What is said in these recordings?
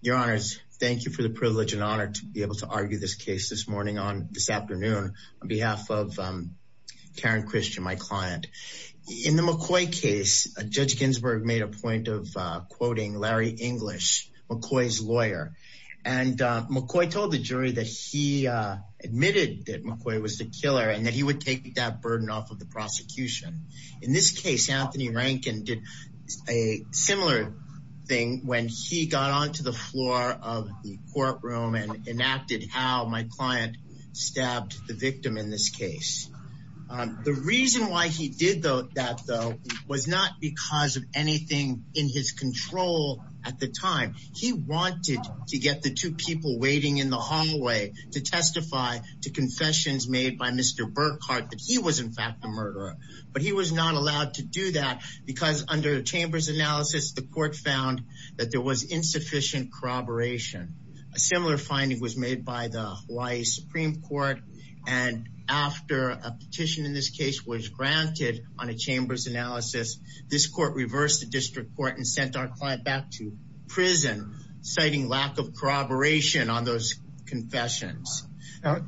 Your honors, thank you for the privilege and honor to be able to argue this case this morning on this afternoon on behalf of Taryn Christian, my client. In the McCoy case, Judge Ginsburg made a point of quoting Larry English, McCoy's lawyer, and McCoy told the jury that he admitted that McCoy was the killer and that he would take that burden off of the prosecution. In this case, Anthony Rankin did a similar thing when he got onto the floor of the courtroom and enacted how my client stabbed the victim in this case. The reason why he did that, though, was not because of anything in his control at the time. He wanted to get the two people waiting in the hallway to testify to confessions made by Mr. Burkhart that he was, in fact, the murderer, but he was not allowed to do that because under the chamber's analysis, the court found that there was insufficient corroboration. A similar finding was made by the Hawaii Supreme Court, and after a petition in this case was granted on a chamber's analysis, this court reversed the district court and sent our client back to prison, citing lack of corroboration on those confessions.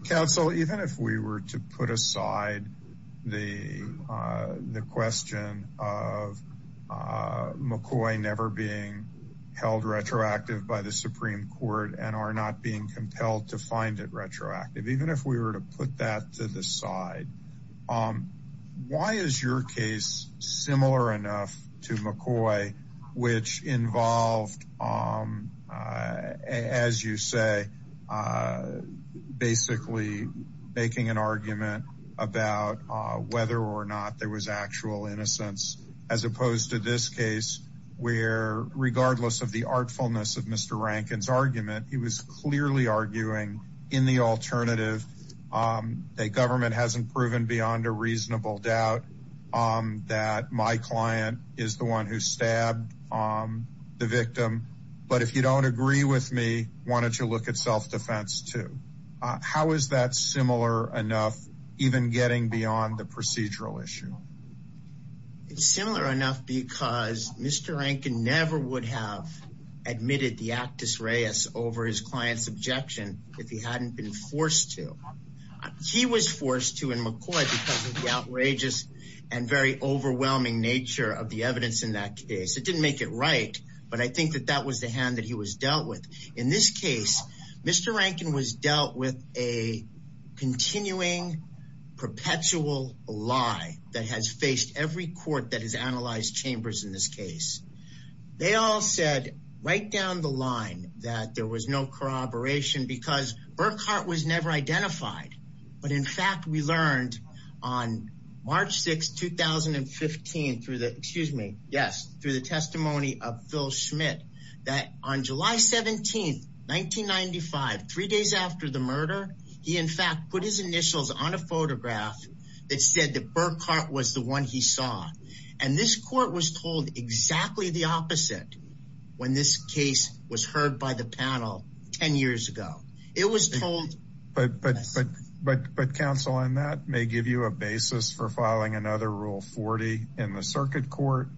Counsel, even if we were to put aside the question of McCoy never being held retroactive by the Supreme Court and are not being compelled to find it retroactive, even if we were to put that to the Basically, making an argument about whether or not there was actual innocence, as opposed to this case, where regardless of the artfulness of Mr. Rankin's argument, he was clearly arguing in the alternative that government hasn't proven beyond a reasonable doubt that my client is the one who stabbed the victim, but if you don't agree with me, why don't you look at self-defense, too? How is that similar enough, even getting beyond the procedural issue? It's similar enough because Mr. Rankin never would have admitted the actus reis over his client's objection if he hadn't been forced to. He was forced to in McCoy because of the outrageous and very overwhelming nature of the evidence in that case. It didn't make it right, but I think that that was the hand that he was dealt with. In this case, Mr. Rankin was dealt with a continuing perpetual lie that has faced every court that has analyzed chambers in this case. They all said right down the line that there was no corroboration because Burkhart was never that. On July 17, 1995, three days after the murder, he in fact put his initials on a photograph that said that Burkhart was the one he saw, and this court was told exactly the opposite when this case was heard by the panel 10 years ago. It was told. But counsel, on that may give you a basis for filing another Rule 40 in the circuit court,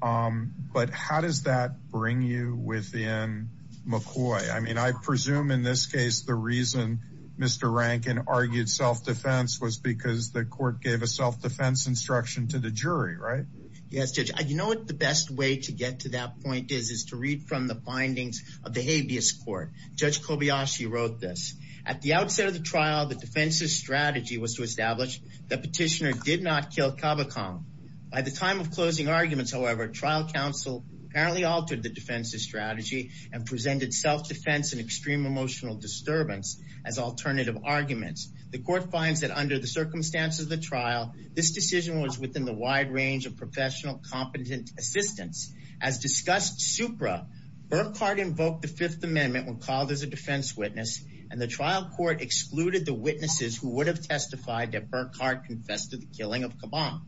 but how does that bring you within McCoy? I mean, I presume in this case the reason Mr. Rankin argued self-defense was because the court gave a self-defense instruction to the jury, right? Yes, Judge. You know what the best way to get to that point is, is to read from the findings of the habeas court. Judge Kobayashi wrote this. At the outset of the trial, the defense's strategy was to establish the petitioner did not kill Kavakam. By the time of closing arguments, however, trial counsel apparently altered the defense's strategy and presented self-defense and extreme emotional disturbance as alternative arguments. The court finds that under the circumstances of the trial, this decision was within the wide range of professional competent assistance. As discussed supra, Burkhart invoked the Fifth Amendment when called as a defense witness, and the trial court excluded the witnesses who would have testified that Burkhart confessed to the killing of Kabam.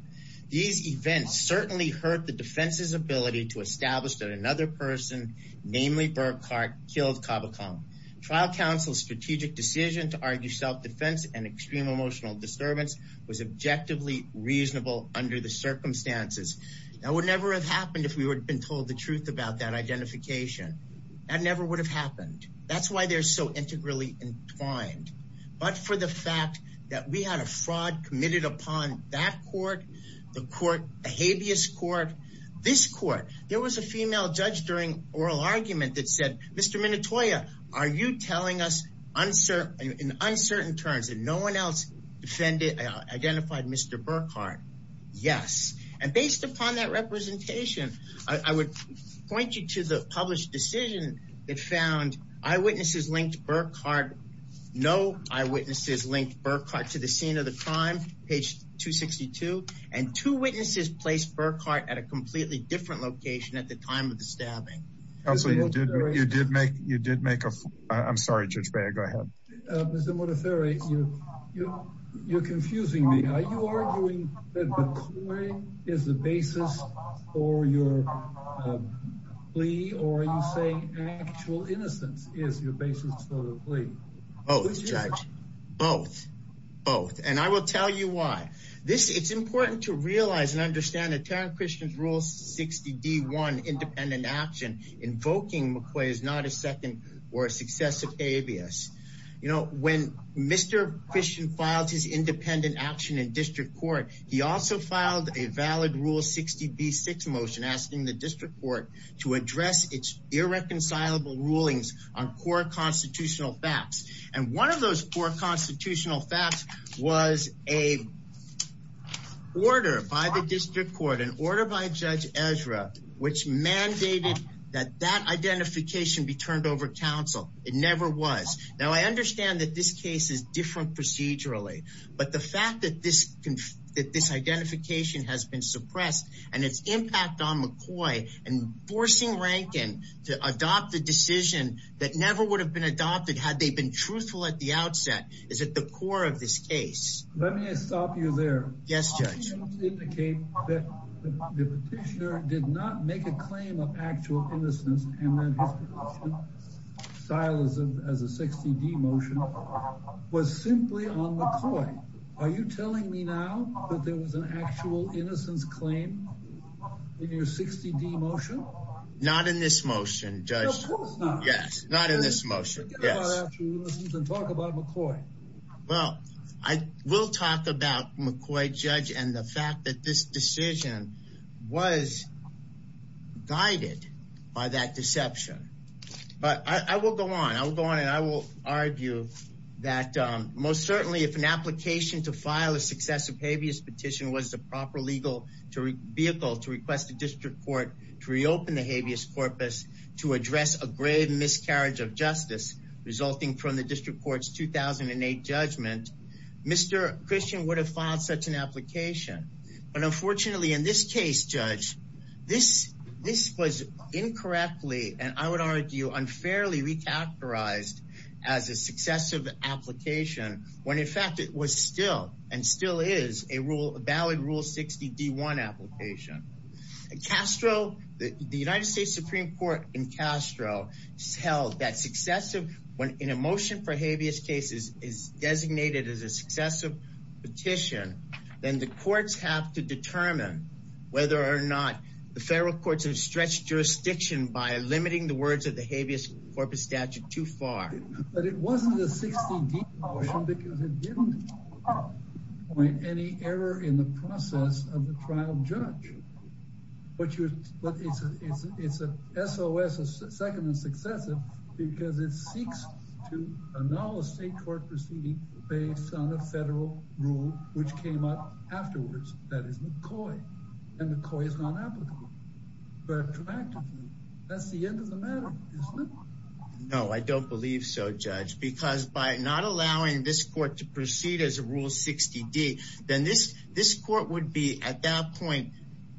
These events certainly hurt the defense's ability to establish that another person, namely Burkhart, killed Kavakam. Trial counsel's strategic decision to argue self-defense and extreme emotional disturbance was objectively reasonable under the circumstances. That would never have happened if we had been told the truth about that identification. That never would have happened. That's why they're so integrally entwined. But for the fact that we had a fraud committed upon that court, the court, the habeas court, this court, there was a female judge during oral argument that said, Mr. Minotoya, are you telling us in uncertain terms that no one else identified Mr. Burkhart? Yes. And based upon that representation, I would point you to the published decision that found eyewitnesses linked Burkhart, no eyewitnesses linked Burkhart to the scene of the crime, page 262, and two witnesses placed Burkhart at a completely different location at the time of the stabbing. Counsel, you did make, you did make a, I'm sorry, Judge Beyer, go ahead. Mr. Montefiore, you're confusing me. Are you arguing that McCoy is the basis for your plea? Or are you saying actual innocence is your basis for the plea? Both, Judge. Both. Both. And I will tell you why. This, it's important to realize and understand that Tarrant Christian's Rule 60 D1 independent action invoking McCoy is not a second or a successive abuse. You know, when Mr. Christian filed his independent action in district court, he also filed a valid Rule 60 B6 motion asking the district court to address its irreconcilable rulings on core constitutional facts. And one of those core constitutional facts was a order by the district court, an order by Judge Ezra, which mandated that that identification be turned over counsel. It never was. Now, I understand that this case is different procedurally, but the fact that this, that this identification has been suppressed and its impact on McCoy and forcing Rankin to adopt a decision that never would have been adopted had they been truthful at the outset is at the core of this case. Let me stop you there. Yes, Judge. Indicate that the petitioner did not make a claim of actual innocence and then his style as a 60 D motion was simply on McCoy. Are you telling me now that there was an actual innocence claim in your 60 D motion? Not in this motion, Judge. Yes, not in this motion. Yes. Talk about McCoy. Well, I will talk about McCoy, Judge, and the fact that this decision was guided by that deception. But I will go on. I will go on and I will argue that most certainly if an application to file a successive habeas petition was the proper legal vehicle to request the district court to reopen the habeas corpus to address a grave miscarriage of justice resulting from the district court's 2008 judgment, Mr. Christian would have filed such an application. But unfortunately, in this case, Judge, this, this was incorrectly, and I would argue unfairly, re-characterized as a successive application when in fact it was still and still is a rule, a valid rule 60 D1 application. Castro, the United States Supreme Court in Castro held that successive when in a motion for habeas cases is designated as a successive petition, then the courts have to determine whether or not the federal courts have stretched jurisdiction by limiting the words of the habeas corpus statute too far. But it wasn't a 60 D motion because it didn't point any error in the process of the trial judge. But you, but it's a, it's a SOS, a second and successive because it seeks to annul a state court proceeding based on a federal rule, which came up afterwards, that is McCoy and McCoy is not applicable. But that's the end of the matter, isn't it? No, I don't believe so, Judge, because by not allowing this court to proceed as a rule 60 D, then this, this court would be at that point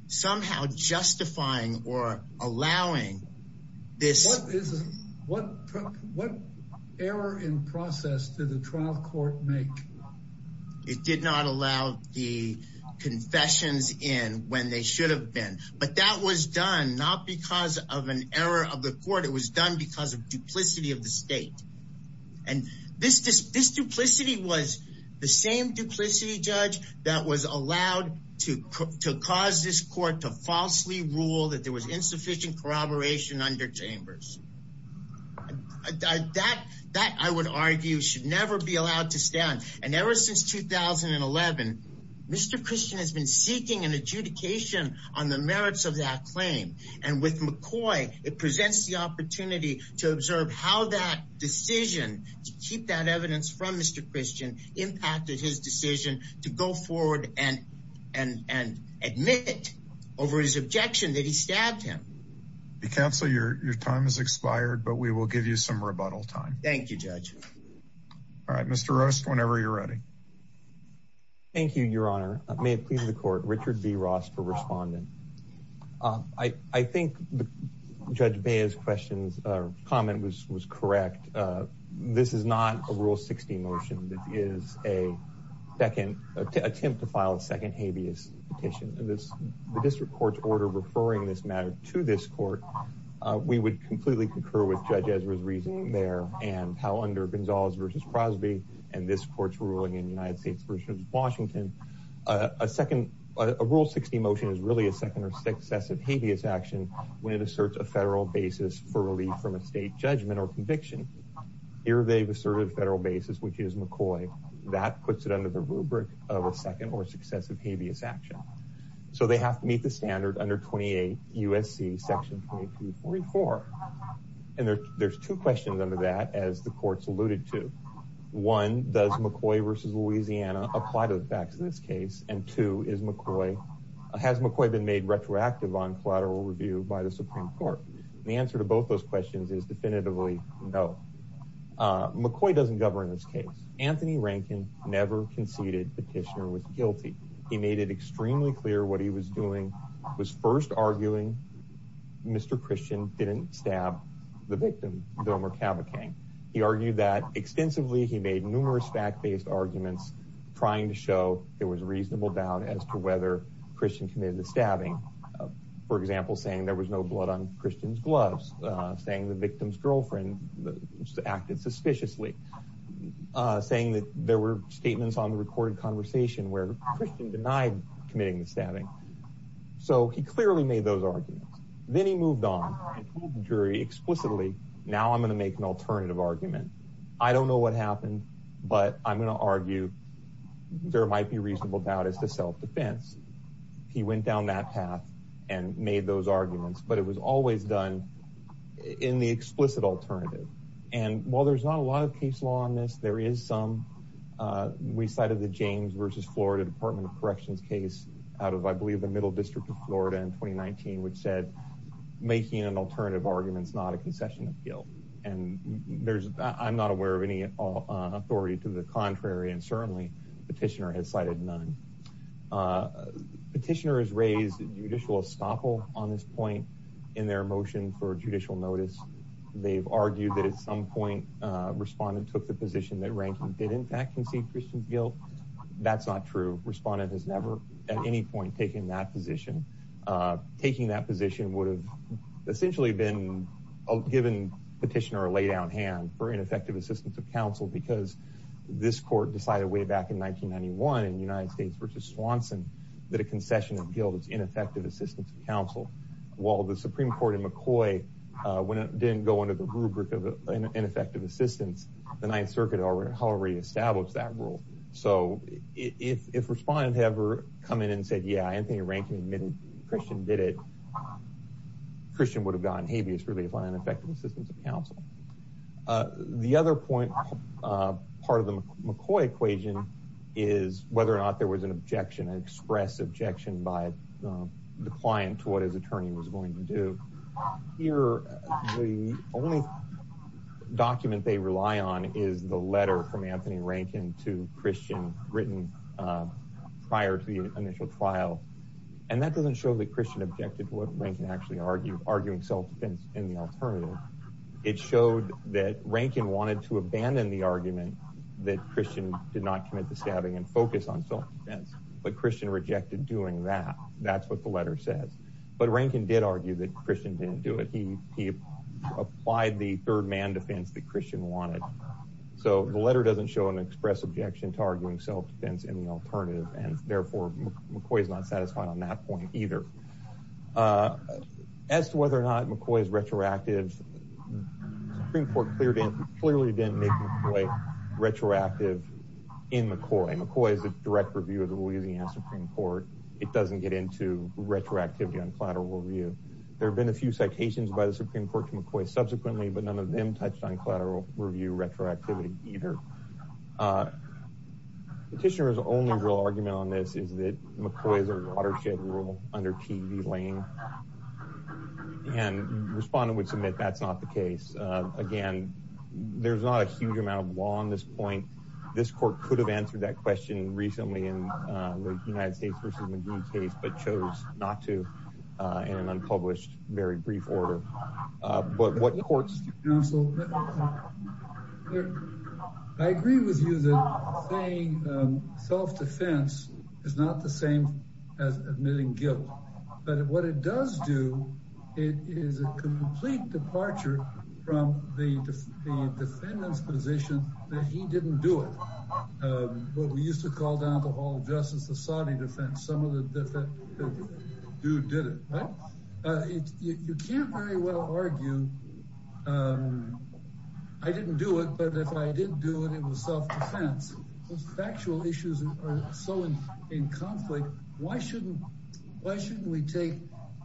somehow justifying or allowing this. What error in process did the trial court make? It did not allow the confessions in when they should have been, but that was done not because of an error of the court. It was done because of duplicity of the state. And this, this, this duplicity was the same duplicity judge that was allowed to, to cause this court to falsely rule that there was insufficient corroboration under chambers. That, that I would argue should never be allowed to stand. And ever since 2011, Mr. Christian has been seeking an adjudication on the merits of that that decision to keep that evidence from Mr. Christian impacted his decision to go forward and, and, and admit over his objection that he stabbed him. The counsel, your, your time has expired, but we will give you some rebuttal time. Thank you, Judge. All right, Mr. Roast, whenever you're ready. Thank you, Your Honor. May it please the court, Richard B. Ross for responding. Um, I, I think Judge Bea's questions, uh, comment was, was correct. Uh, this is not a Rule 60 motion that is a second attempt to file a second habeas petition. And this, the district court's order referring this matter to this court, uh, we would completely concur with Judge Ezra's reasoning there and how under Gonzalez versus Crosby and this court's ruling in the United States versus Washington, uh, a second, uh, a Rule 60 motion is really a second or successive habeas action when it asserts a federal basis for relief from a state judgment or conviction. Here they've asserted federal basis, which is McCoy. That puts it under the rubric of a second or successive habeas action. So they have to meet the standard under 28 U.S.C. Section 2344. And there, there's two questions under that as the court's alluded to. One, does McCoy versus Louisiana apply to the facts in this case? And two, is McCoy, has McCoy been made retroactive on collateral review by the Supreme Court? The answer to both those questions is definitively no. Uh, McCoy doesn't govern this case. Anthony Rankin never conceded the petitioner was guilty. He made it extremely clear what he was doing was first arguing Mr. Christian didn't stab the victim, Dilmer Cavachang. He argued that extensively, he made numerous fact-based arguments trying to show there was reasonable doubt as to whether Christian committed the stabbing. For example, saying there was no blood on Christian's gloves, saying the victim's girlfriend acted suspiciously, uh, saying that there were statements on the recorded conversation where Christian denied committing the stabbing. So he clearly made those arguments. Then he moved on and told the jury explicitly, now I'm going to make an alternative argument. I don't know what happened, but I'm going to argue there might be reasonable doubt as to self-defense. He went down that path and made those arguments, but it was always done in the explicit alternative. And while there's not a lot of case law on this, there is some. Uh, we cited the James versus Florida Department of the Middle District of Florida in 2019, which said making an alternative argument is not a concession of guilt. And there's, I'm not aware of any authority to the contrary. And certainly petitioner has cited none. Uh, petitioner has raised judicial estoppel on this point in their motion for judicial notice. They've argued that at some point, uh, respondent took the position that ranking did in fact concede Christian's guilt. That's not true. Respondent has never at any point, taking that position, uh, taking that position would have essentially been given petition or a lay down hand for ineffective assistance of counsel, because this court decided way back in 1991 in United States versus Swanson that a concession of guilt is ineffective assistance of counsel while the Supreme court in McCoy, uh, when it didn't go under the rubric of ineffective assistance, the ninth circuit already already established that So if, if respondent had ever come in and said, yeah, Anthony Rankin admitted Christian did it, Christian would have gotten habeas relief on ineffective assistance of counsel. Uh, the other point, uh, part of the McCoy equation is whether or not there was an objection, an express objection by the client to what his attorney was going to do here. The only Christian written, uh, prior to the initial trial. And that doesn't show that Christian objected to what Rankin actually argued, arguing self-defense in the alternative. It showed that Rankin wanted to abandon the argument that Christian did not commit the stabbing and focus on self-defense, but Christian rejected doing that. That's what the letter says. But Rankin did argue that Christian didn't do it. He, he applied the third man defense that Christian wanted. So the letter doesn't show an express objection to arguing self-defense in the alternative. And therefore McCoy is not satisfied on that point either, uh, as to whether or not McCoy is retroactive Supreme court cleared in clearly didn't make McCoy retroactive in McCoy. McCoy is a direct review of the Louisiana Supreme court. It doesn't get into retroactivity on collateral review. There've been a few citations by the Supreme court to McCoy subsequently, but none of them touched on collateral review retroactivity either. Uh, petitioner's only real argument on this is that McCoy is a watershed rule under TV lane and respondent would submit. That's not the case. Uh, again, there's not a huge amount of law on this point. This court could have answered that question recently in the United States versus McGee case, but chose not to, uh, in an unpublished very brief order. Uh, but what courts, I agree with you that self-defense is not the same as admitting guilt, but what it does do, it is a complete departure from the, the defendant's position that he didn't do it. Um, what we used to call down justice, the Saudi defense, some of the different dude did it, right? Uh, you can't very well argue, um, I didn't do it, but if I didn't do it, it was self-defense. Those factual issues are so in, in conflict. Why shouldn't, why shouldn't we take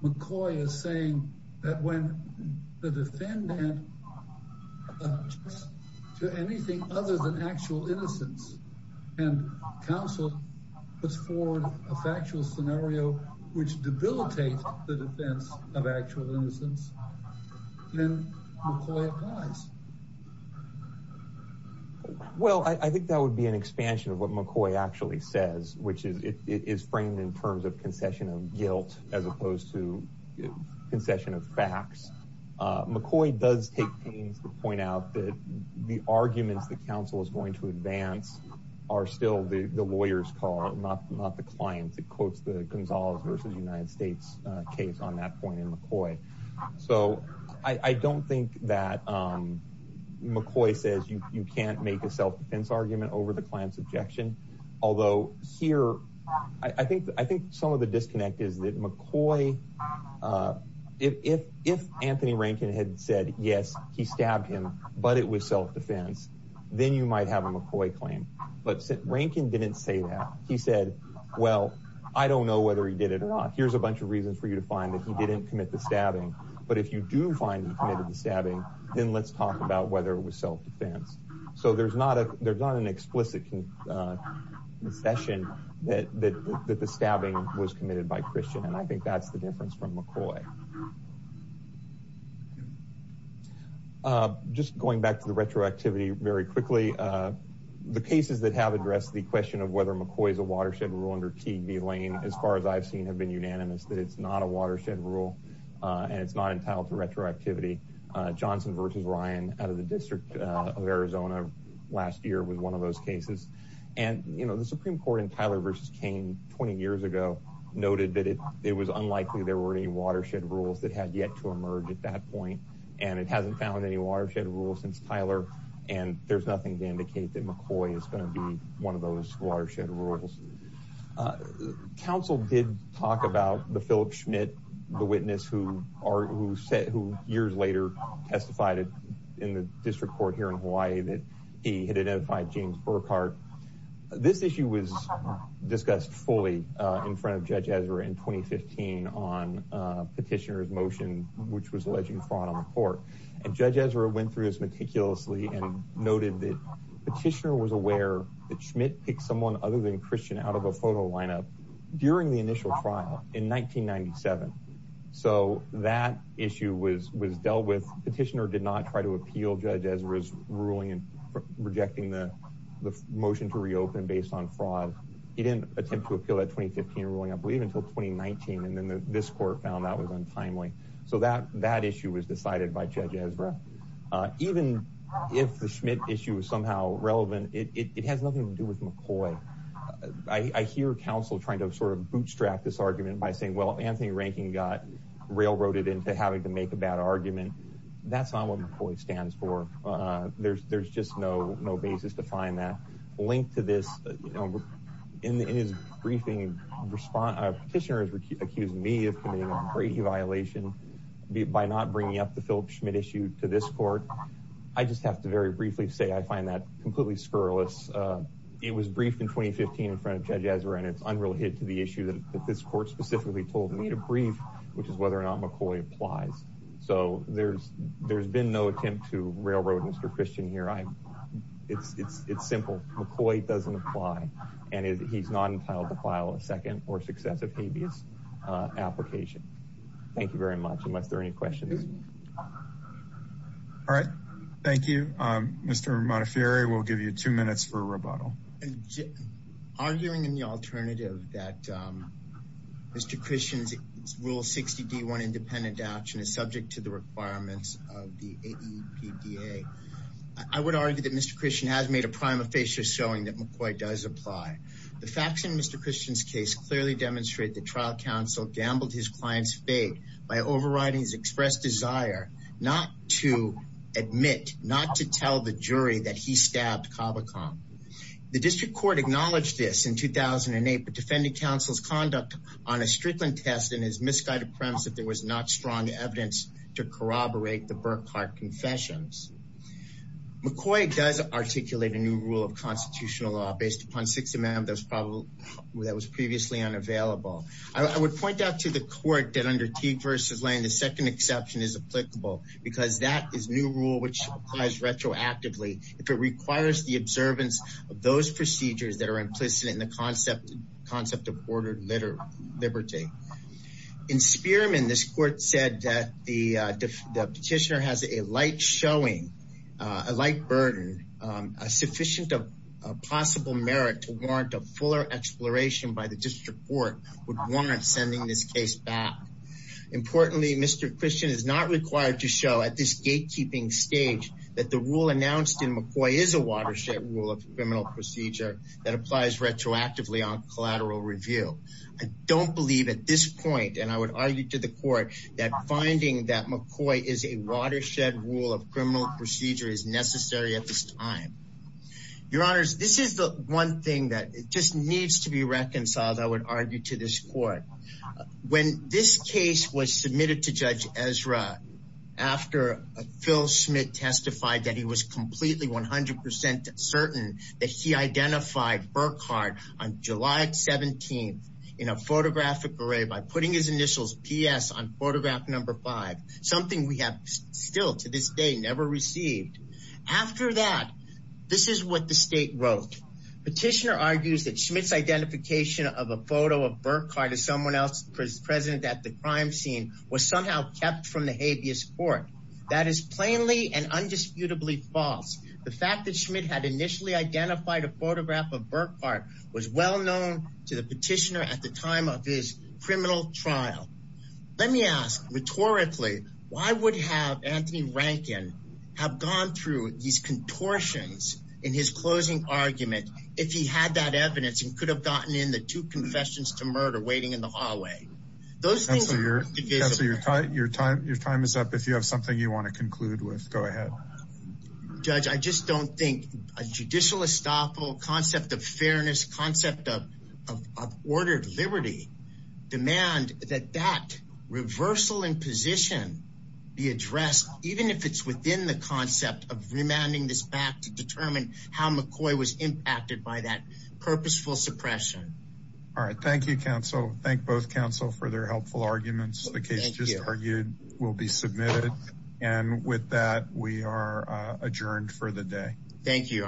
McCoy as saying that when the defendant uh, to anything other than actual innocence and counsel puts forward a factual scenario, which debilitates the defense of actual innocence, then McCoy applies. Well, I think that would be an expansion of what McCoy actually says, which is, it, it is framed in terms of concession of guilt, as opposed to concession of facts. Uh, McCoy does take pains to point out that the arguments that counsel is going to advance are still the, the lawyer's call, not, not the client that quotes the Gonzalez versus United States case on that point in McCoy. So I don't think that, um, McCoy says you, you can't make a self-defense argument over the client's objection. Although here, I think, I think some of the disconnect is that McCoy, uh, if, if, if Anthony Rankin had said, yes, he stabbed him, but it was self-defense, then you might have a McCoy claim. But Rankin didn't say that. He said, well, I don't know whether he did it or not. Here's a bunch of reasons for you to find that he didn't commit the stabbing. But if you do find he committed the stabbing, then let's talk about whether it was self-defense. So there's not a, there's not an explicit con, uh, concession that, that, that the stabbing was committed by Christian. And I think that's the difference from McCoy. Uh, just going back to the retroactivity very quickly, uh, the cases that have addressed the question of whether McCoy is a watershed rule under Teague v. Lane, as far as I've seen, have been unanimous that it's not a watershed rule, uh, and it's not entitled to retroactivity. Uh, Johnson versus Ryan out of the District of Arizona last year was one of those cases. And, you know, the Supreme Court in Tyler v. Kane 20 years ago noted that it, it was unlikely there were any watershed rules that had yet to emerge at that point. And it hasn't found any watershed rules since Tyler. And there's nothing to indicate that McCoy is going to be one of those watershed rules. Uh, counsel did talk about the Philip Schmidt, the witness who are, who said, who testified in the district court here in Hawaii that he had identified James Burkhart. This issue was discussed fully, uh, in front of Judge Ezra in 2015 on, uh, petitioner's motion, which was alleging fraud on the court. And Judge Ezra went through this meticulously and noted that petitioner was aware that Schmidt picked someone other than Christian out of a photo lineup during the initial trial in 1997. So that issue was, was dealt with. Petitioner did not try to appeal Judge Ezra's ruling in rejecting the motion to reopen based on fraud. He didn't attempt to appeal that 2015 ruling, I believe, until 2019. And then this court found that was untimely. So that, that issue was decided by Judge Ezra. Uh, even if the Schmidt issue is somehow relevant, it, it, it has nothing to do with McCoy. I, I hear counsel trying to sort of bootstrap this argument by saying, well, Anthony Rankin got railroaded into having to make a bad argument. That's not what McCoy stands for. Uh, there's, there's just no, no basis to find that link to this, you know, in, in his briefing response, petitioner has accused me of committing a Brady violation by not bringing up the Philip Schmidt issue to this court. I just have to very briefly say, I find that completely scurrilous. Uh, it was briefed in 2015 in front of Judge Ezra and it's unrelated to the issue that this court specifically told me to brief, which is whether or not McCoy applies. So there's, there's been no attempt to railroad Mr. Christian here. I, it's, it's, it's simple. McCoy doesn't apply and he's not entitled to file a second or successive habeas, uh, application. Thank you very much. Unless there are any questions. All right. Thank you. Um, Mr. Montefiore, we'll give you two minutes for rebuttal. Arguing in the alternative that, um, Mr. Christian's rule 60 D one independent action is subject to the requirements of the AEPDA. I would argue that Mr. Christian has made a prima facie showing that McCoy does apply. The facts in Mr. Christian's case clearly demonstrate the trial counsel gambled his client's fate by overriding his expressed desire not to admit, not to tell the jury that he stabbed Kavakam. The district court acknowledged this in 2008, but defended counsel's conduct on a Strickland test and his misguided premise that there was not strong evidence to corroborate the Burkhart confessions. McCoy does articulate a new rule of I would point out to the court that under Teague versus Lane, the second exception is applicable because that is new rule, which applies retroactively. If it requires the observance of those procedures that are implicit in the concept, the concept of ordered litter liberty in Spearman, this court said that the, uh, the petitioner has a light showing, uh, a light burden, um, a sufficient of a possible merit to warrant a fuller exploration by the district court would warrant sending this case back. Importantly, Mr. Christian is not required to show at this gatekeeping stage that the rule announced in McCoy is a watershed rule of criminal procedure that applies retroactively on collateral review. I don't believe at this point, and I would argue to the court that finding that McCoy is a watershed rule of criminal procedure is necessary at this time. Your honors, this is the one thing that just needs to be reconciled. I would argue to this court when this case was submitted to Judge Ezra after Phil Schmidt testified that he was completely 100% certain that he identified Burkhardt on July 17th in a photographic array by putting his initials PS on photograph number five, something we have still to this day never received. After that, this is what the state wrote. Petitioner argues that Schmidt's identification of a photo of Burkhardt as someone else present at the crime scene was somehow kept from the habeas court. That is plainly and undisputably false. The fact that Schmidt had initially identified a photograph of Burkhardt was well known to the petitioner at the time of his criminal trial. Let me ask rhetorically, why would have Anthony Rankin have gone through these contortions in his two confessions to murder waiting in the hallway? Your time is up. If you have something you want to conclude with, go ahead. Judge, I just don't think a judicial estoppel, concept of fairness, concept of ordered liberty demand that that reversal in position be addressed even if it's within the concept of remanding this back to determine how McCoy was impacted by that all right thank you counsel thank both counsel for their helpful arguments the case just argued will be submitted and with that we are adjourned for the day thank you